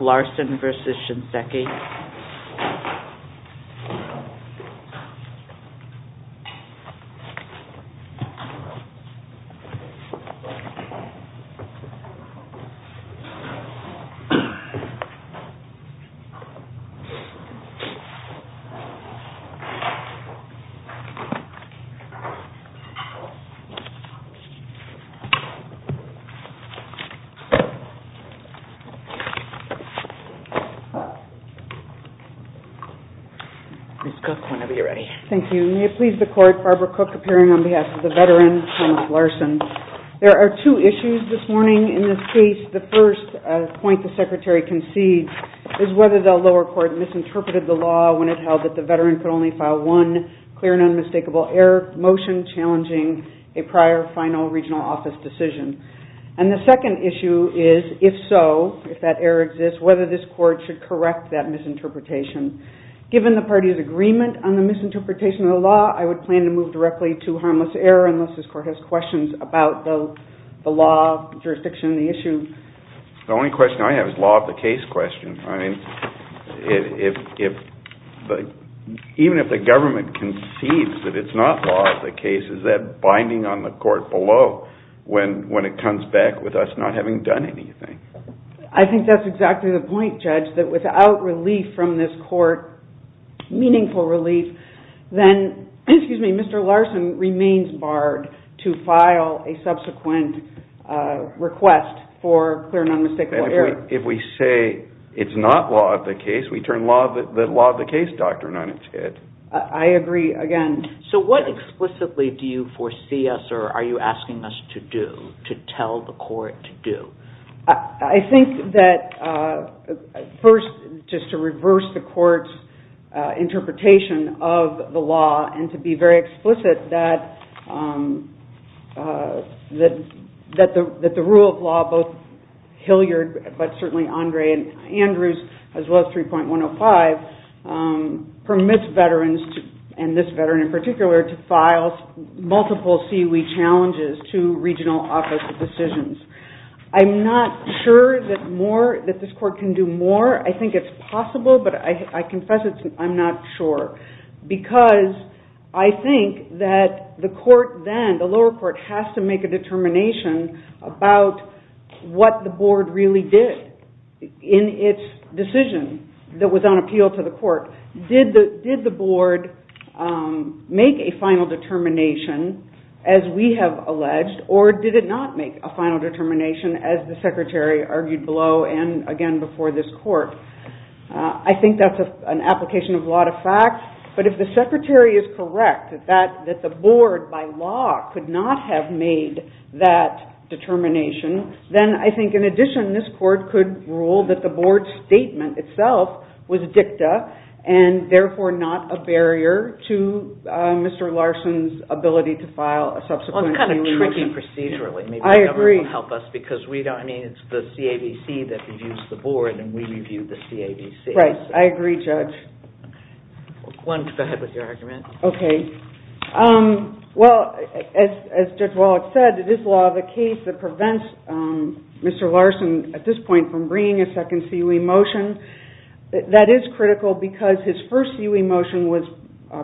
Larson v. Shinseki Larson. There are two issues this morning in this case. The first point the secretary concedes is whether the lower court misinterpreted the law when it held that the veteran could only file one clear and unmistakable error motion challenging a prior final regional office decision. And the second issue is if so, if that error exists, whether this court should correct that misinterpretation. Given the party's agreement on the misinterpretation of the law, I would plan to move directly to harmless error unless this court has questions about the law, jurisdiction, and the issue. The only question I have is law of the case question. I mean, even if the government concedes that it's not law of the case, is that binding on the court below when it comes back with us not having done anything? I think that's exactly the point, Judge, that without relief from this court, meaningful relief, then Mr. Larson remains barred to file a subsequent request for clear and unmistakable error. If we say it's not law of the case, we turn the law of the case doctrine on its head. I agree, again. So what explicitly do you foresee us, or are you asking us to do, to tell the court to do? I think that first, just to reverse the court's interpretation of the law and to be very explicit that the rule of law, both Hilliard, but certainly Andre and Andrews, as well as 3.105, permits veterans, and this veteran in particular, to file multiple CUE challenges to regional office decisions. I'm not sure that this court can do more. I think it's possible, but I confess I'm not sure, because I think that the court then, the lower court, has to make a determination about what the board really did in its decision that was on appeal to the court. Did the board make a final determination, as we have alleged, or did it not make a final determination, as the secretary argued below and again before this court? I think that's an application of law to fact, but if the secretary is correct that the board by law could not have made that determination, then I think in addition, this court could rule that the board's statement itself was dicta and therefore not a barrier to Mr. Larson's ability to file a subsequent CUE. Well, it's kind of tricky procedurally. Maybe the government will help us, because we don't, I mean, it's the CABC that reviews the board, and we review the CABC. Right. I agree, Judge. One could go ahead with your argument. Okay. Well, as Judge Wallach said, it is law of the case that prevents Mr. Larson, at this point, from bringing a second CUE motion. That is critical, because his first CUE motion was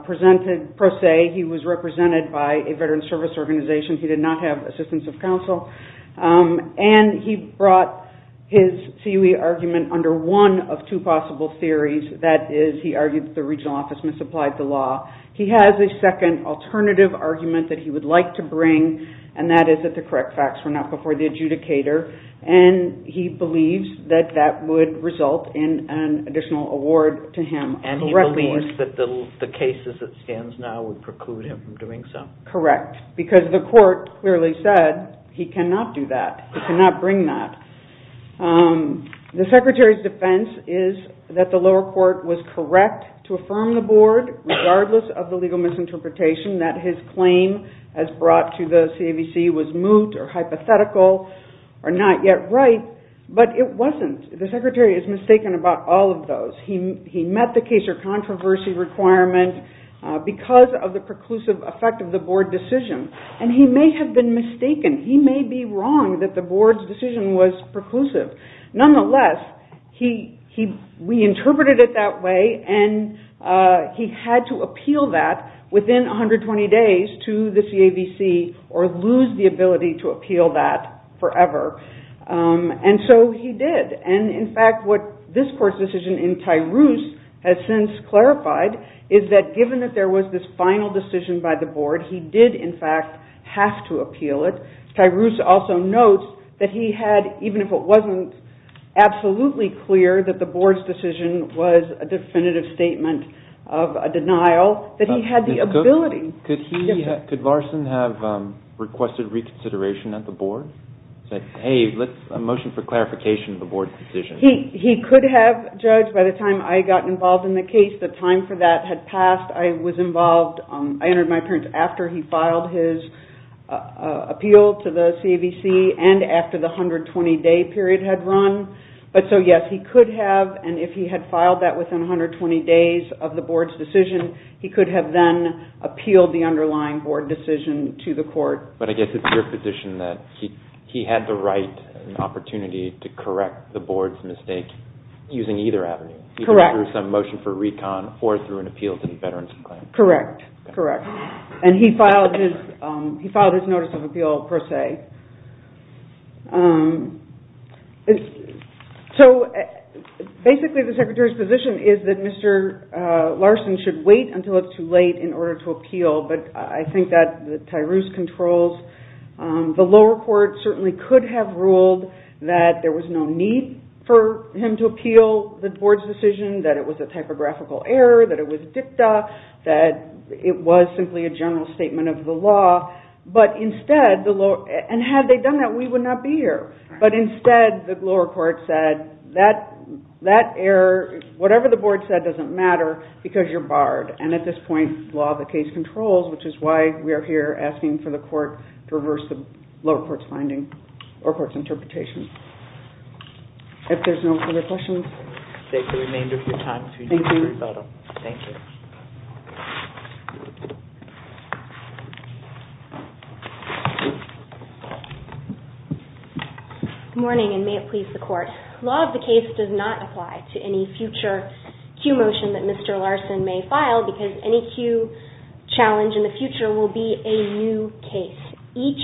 presented pro se. He was represented by a veteran's service organization. He did not have assistance of counsel. And he brought his CUE argument under one of two possible theories. That is, he argued that the regional office misapplied the law. He has a second alternative argument that he would like to bring, and that is that the correct facts were not before the adjudicator. And he believes that that would result in an additional award to him. And he believes that the cases that stands now would preclude him from doing so? Correct. Because the court clearly said he cannot do that. He cannot bring that. The Secretary's defense is that the lower court was correct to affirm the board, regardless of the legal misinterpretation, that his claim as brought to the CAVC was moot or hypothetical or not yet right. But it wasn't. The Secretary is mistaken about all of those. He met the case or controversy requirement because of the preclusive effect of the board decision. And he may have been mistaken. He may be wrong that the board's decision was preclusive. Nonetheless, we interpreted it that way, and he had to appeal that within 120 days to the CAVC or lose the ability to appeal that forever. And so he did. And in fact, what this court's decision in Tyroos has since clarified is that given that there was this final decision by the board, he did, in fact, have to appeal it. Tyroos also notes that he had, even if it wasn't absolutely clear that the board's decision was a definitive statement of a denial, that he had the ability. Could Larson have requested reconsideration at the board? Say, hey, a motion for clarification of the board's decision? He could have, Judge. By the time I got involved in the case, the time for that had passed. I was involved. I entered my appearance after he filed his appeal to the CAVC and after the 120-day period had run. But so, yes, he could have. And if he had filed that within 120 days of the board's decision, he could have then appealed the underlying board decision to the court. But I guess it's your position that he had the right and opportunity to correct the board's mistake using either avenue. Correct. He could have through some motion for recon or through an appeal to the Veterans Claims. Correct. Correct. And he filed his notice of appeal per se. So basically the Secretary's position is that Mr. Larson should wait until it's too late in order to appeal. But I think that the Tyroos controls, the lower court certainly could have ruled that there was no need for him to appeal the board's decision, that it was a typographical error, that it was dicta, that it was simply a general statement of the law. And had they done that, we would not be here. But instead, the lower court said, that error, whatever the board said doesn't matter because you're barred. And at this point, the law of the case controls, which is why we are here asking for the court to reverse the lower court's finding or court's interpretation. If there's no further questions. We'll take the remainder of your time to do the rebuttal. Thank you. Good morning, and may it please the court. The law of the case does not apply to any future Q motion that Mr. Larson may file because any Q challenge in the future will be a new case. Each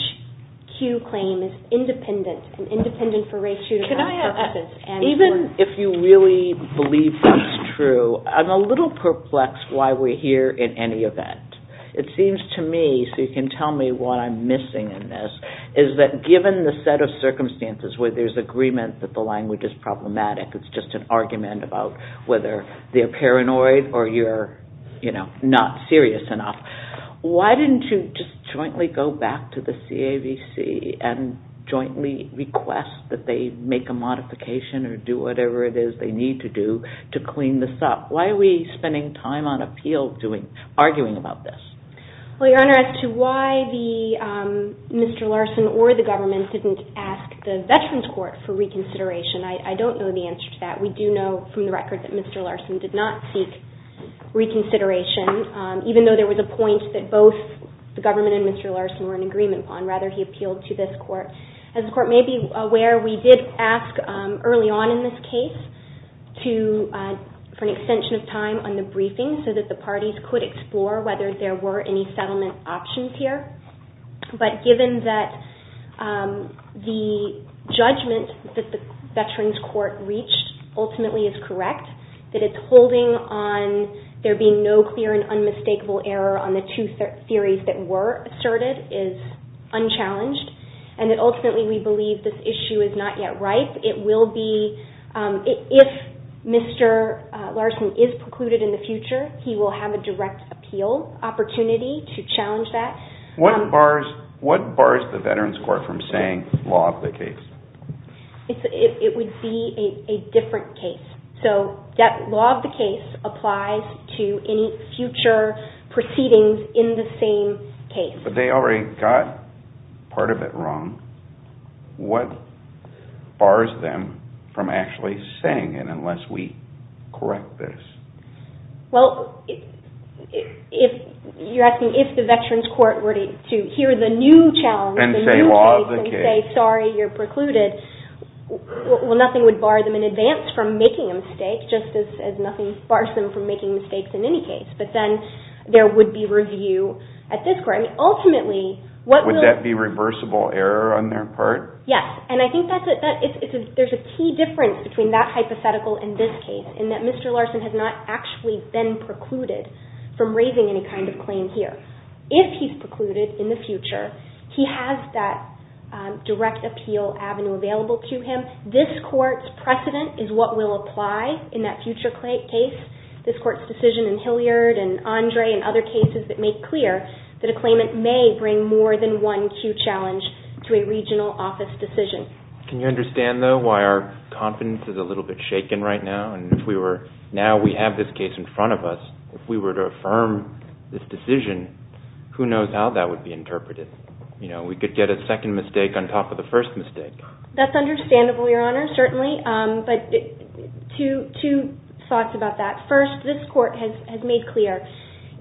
Q claim is independent and independent for race, gender, class, or ethnicity. Even if you really believe that's true, I'm a little perplexed why we're here in any event. It seems to me, so you can tell me what I'm missing in this, is that given the set of circumstances where there's agreement that the language is problematic, it's just an argument about whether they're paranoid or you're not serious enough, why didn't you just jointly go back to the CAVC and jointly request that they make a modification or do whatever it is they need to do to clean this up? Why are we spending time on appeal arguing about this? Well, Your Honor, as to why Mr. Larson or the government didn't ask the Veterans Court for reconsideration, I don't know the answer to that. We do know from the record that Mr. Larson or the government and Mr. Larson were in agreement on. Rather, he appealed to this Court. As the Court may be aware, we did ask early on in this case for an extension of time on the briefing so that the parties could explore whether there were any settlement options here. But given that the judgment that the Veterans Court reached ultimately is correct, that it's holding on there being no clear and unmistakable error on the two theories that were asserted is unchallenged, and that ultimately we believe this issue is not yet ripe. If Mr. Larson is precluded in the future, he will have a direct appeal opportunity to challenge that. What bars the Veterans Court from saying law of the case? It would be a different case. So that law of the case applies to any future proceedings in the same case. But they already got part of it wrong. What bars them from actually saying it unless we correct this? Well, you're asking if the Veterans Court were to hear the new challenge, the new case being precluded, well nothing would bar them in advance from making a mistake, just as nothing bars them from making mistakes in any case. But then there would be review at this Court. Would that be reversible error on their part? Yes. And I think there's a key difference between that hypothetical and this case in that Mr. Larson has not actually been precluded from raising any kind of claim here. If he's had that direct appeal avenue available to him, this Court's precedent is what will apply in that future case. This Court's decision in Hilliard and Andre and other cases that make clear that a claimant may bring more than one Q challenge to a regional office decision. Can you understand, though, why our confidence is a little bit shaken right now? Now we have this case in front of us. If we were to affirm this decision, who knows how that would be That's understandable, Your Honor, certainly. But two thoughts about that. First, this Court has made clear,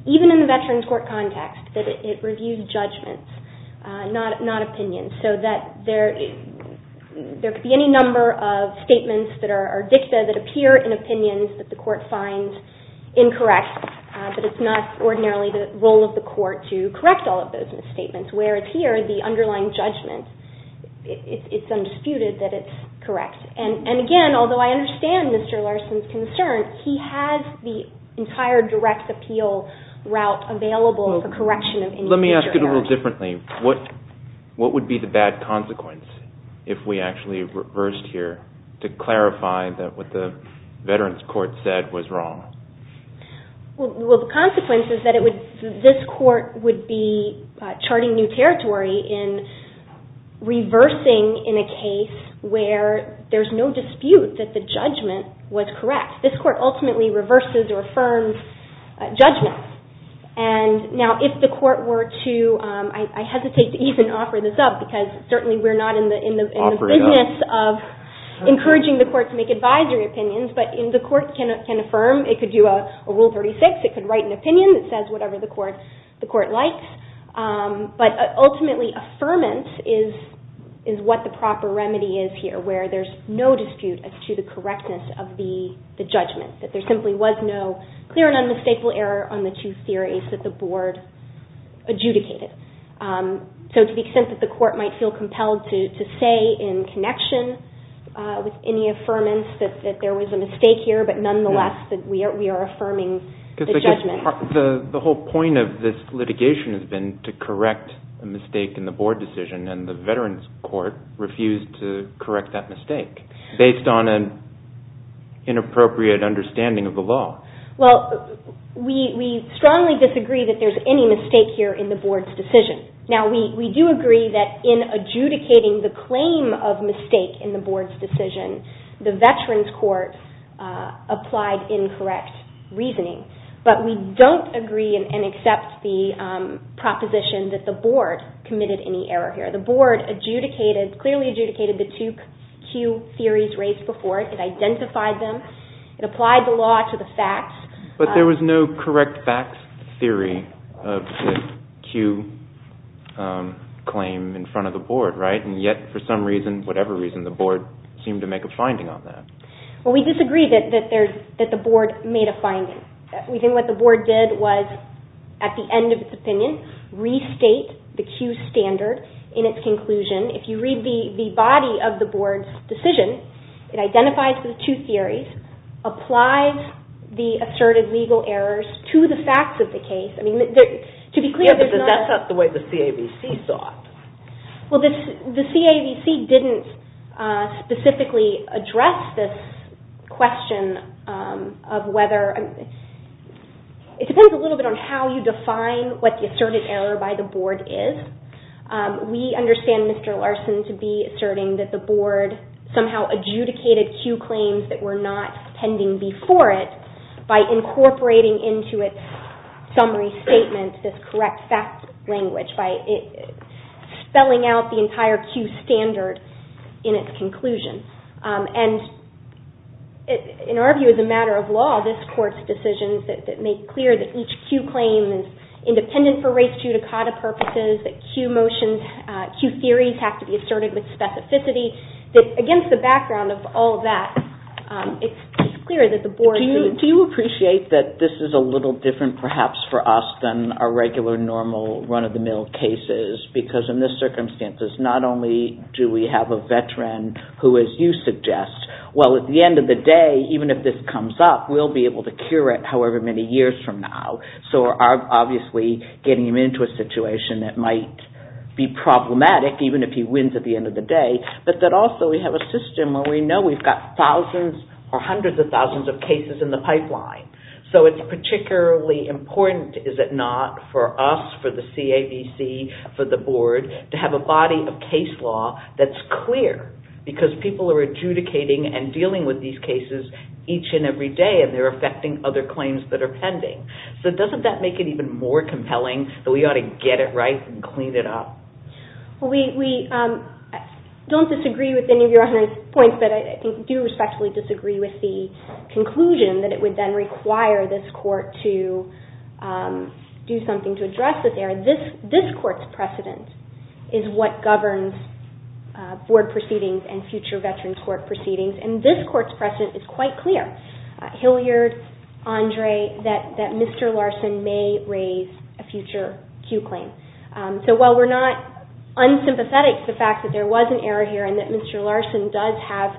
even in the Veterans Court context, that it reviews judgments, not opinions. So that there could be any number of statements that are dicta that appear in opinions that the Court finds incorrect, but it's not ordinarily the role of the Court to correct all of those statements. Where it's here, the underlying judgment, it's undisputed that it's correct. And again, although I understand Mr. Larson's concerns, he has the entire direct appeal route available for correction of any future errors. Let me ask it a little differently. What would be the bad consequence if we actually reversed here to clarify that what the Veterans Court said was wrong? Well, the consequence is that this Court would be charting new territory in reversing in a case where there's no dispute that the judgment was correct. This Court ultimately reverses or affirms judgment. And now if the Court were to, I hesitate to even offer this up because certainly we're not in the business of encouraging the Court to make advisory opinions, but the Court can affirm, it could do a Rule 36, it could write an opinion that says whatever the Court likes. But ultimately, affirmance is what the proper remedy is here, where there's no dispute as to the correctness of the judgment, that there simply was no clear and unmistakable error on the two theories that the Board adjudicated. So to the extent that the Court might feel compelled to say in connection with any affirmance that there was a mistake here, but nonetheless that we are affirming the judgment. The whole point of this litigation has been to correct a mistake in the Board decision, and the Veterans Court refused to correct that mistake based on an inappropriate understanding of the law. Well, we strongly disagree that there's any mistake here in the Board's decision. Now, we do agree that in adjudicating the claim of mistake in the Board's decision, the Veterans Court applied incorrect reasoning, but we don't agree and accept the proposition that the Board committed any error here. The Board clearly adjudicated the two Q theories raised before it, it identified them, it applied the law to the facts. But there was no correct facts theory of the Q claim in front of the Board, right? And yet, for some reason, whatever reason, the Board seemed to make a finding on that. Well, we disagree that the Board made a finding. We think what the Board did was, at the end of its opinion, restate the Q standard in its conclusion. If you read the body of the Board's decision, it identifies the two theories, applies the asserted legal errors to the facts of the case. Yeah, but that's not the way the CAVC saw it. Well, the CAVC didn't specifically address this question of whether... It depends a little bit on how you define what the asserted error by the Board is. We understand, Mr. Larson, to be asserting that the Board somehow adjudicated Q claims that were not pending before it by incorporating into its summary statement this correct facts language, by spelling out the entire Q standard in its conclusion. And in our view, as a matter of law, this Court's decisions that make clear that each Q claim is independent for race judicata purposes, that Q theories have to be asserted with specificity, that against the background of all that, it's clear that the Board... Do you appreciate that this is a little different, perhaps, for us than our regular, normal, run-of-the-mill cases? Because in this circumstances, not only do we have a veteran who, as you suggest, well, at the end of the day, even if this comes up, we'll be able to cure it however many years from now. So we're obviously getting him into a situation that might be problematic, even if he wins at the end of the day, but that also we have a system where we know we've got thousands or hundreds of thousands of cases in the pipeline. So it's particularly important, is it not, for us, for the CABC, for the Board, to have a body of case law that's clear, because people are adjudicating and dealing with these cases each and every day, and they're affecting other claims that are pending. So doesn't that make it even more compelling that we ought to get it right and clean it up? Well, we don't disagree with any of Your Honor's points, but I do respectfully disagree with the conclusion that it would then require this Court to do something to address this area. This Court's precedent is what governs Board proceedings and future Veterans Court proceedings, and this Court's precedent is quite clear. Hilliard, Andre, that Mr. Larson may raise a future Q claim. So while we're not unsympathetic to the fact that there was an error here and that Mr. Larson does have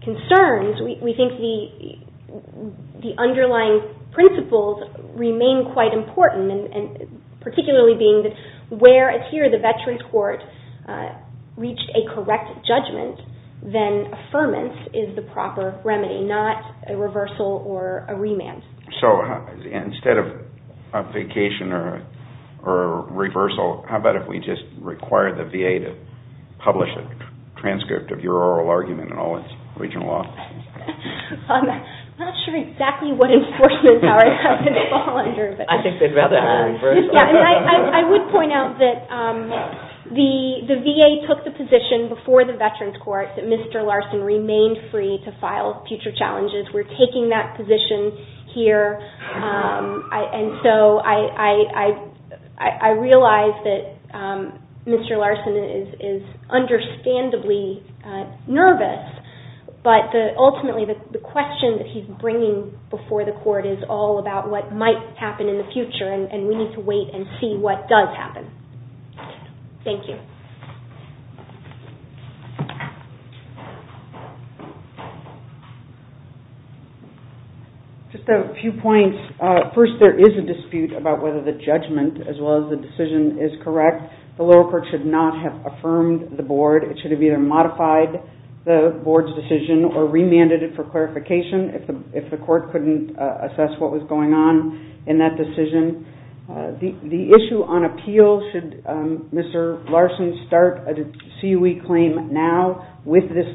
concerns, we think the underlying principles remain quite important, particularly being that where, here, the Veterans Court reached a correct judgment, then affirmance is the proper remedy, not a reversal or a remand. So instead of a vacation or a reversal, how about if we just require the VA to publish a transcript of your oral argument in all its regional offices? I'm not sure exactly what enforcement power that would fall under. I think they'd rather have a reversal. I would point out that the VA took the position before the Veterans Court that Mr. Larson remained free to file future challenges. We're taking that position here, and so I realize that Mr. Larson is understandably nervous, but ultimately the question that he's bringing before the Court is all about what might happen in the future, and we need to wait and see what does happen. Thank you. Just a few points. First, there is a dispute about whether the judgment, as well as the decision, is correct. The lower court should not have affirmed the board. It should have either modified the board's decision or remanded it for clarification if the court couldn't assess what was going on in that decision. The issue on appeal, should Mr. Larson start a CUE claim now with this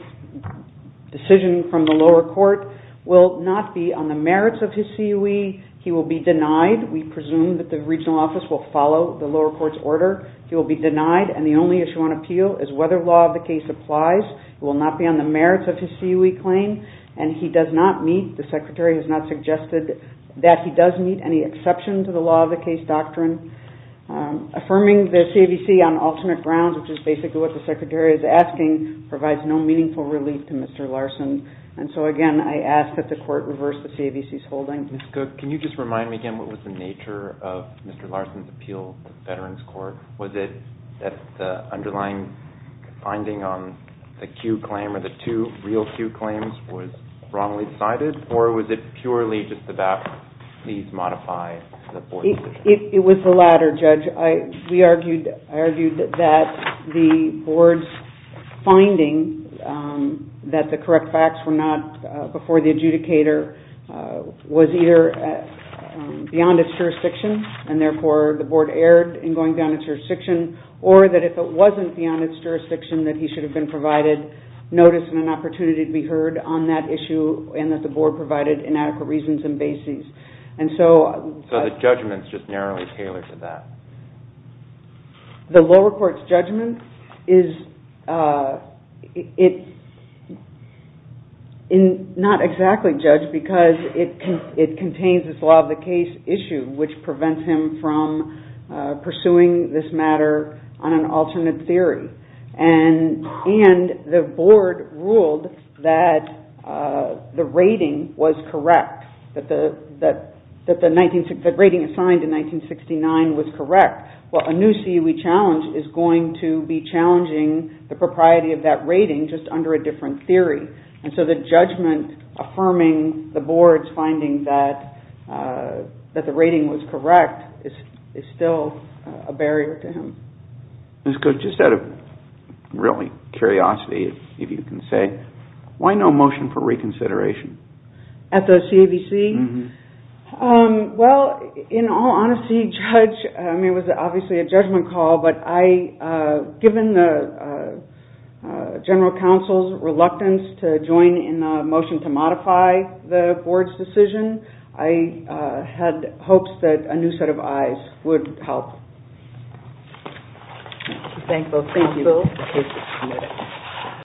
decision from the lower court, will not be on the merits of his CUE. He will be denied. We presume that the regional office will follow the lower court's order. He will be denied, and the only issue on appeal is whether law of the case applies. It will not be on the merits of his CUE claim, and he does not meet, the Secretary has not suggested that he does meet, any exception to the law of the case doctrine. Affirming the CAVC on alternate grounds, which is basically what the Secretary is asking, provides no meaningful relief to Mr. Larson. Again, I ask that the court reverse the CAVC's holding. Ms. Cook, can you just remind me again what was the nature of Mr. Larson's appeal to the Veterans Court? Was it that the underlying finding on the CUE claim or the two real CUE claims was wrongly cited, or was it purely just about these modified board decisions? It was the latter, Judge. I argued that the board's finding that the correct facts were not before the adjudicator was either beyond its jurisdiction, and therefore the board erred in going beyond its jurisdiction, or that if it wasn't beyond its jurisdiction, that he should have been provided notice and an opportunity to be heard on that issue and that the board provided inadequate reasons and bases. So the judgment is just narrowly tailored to that? The lower court's judgment is not exactly, Judge, because it contains this law of the case issue, which prevents him from pursuing this matter on an alternate theory. And the board ruled that the rating was correct, that the rating assigned in 1969 was correct. Well, a new CUE challenge is going to be challenging the propriety of that rating just under a different theory. And so the judgment affirming the board's finding that the rating was correct is still a barrier to him. Ms. Coates, just out of curiosity, if you can say, why no motion for reconsideration? At the CAVC? Well, in all honesty, Judge, I mean, it was obviously a judgment call, but given the general counsel's reluctance to join in a motion to modify the board's decision, I had hopes that a new set of eyes would help. Thank you.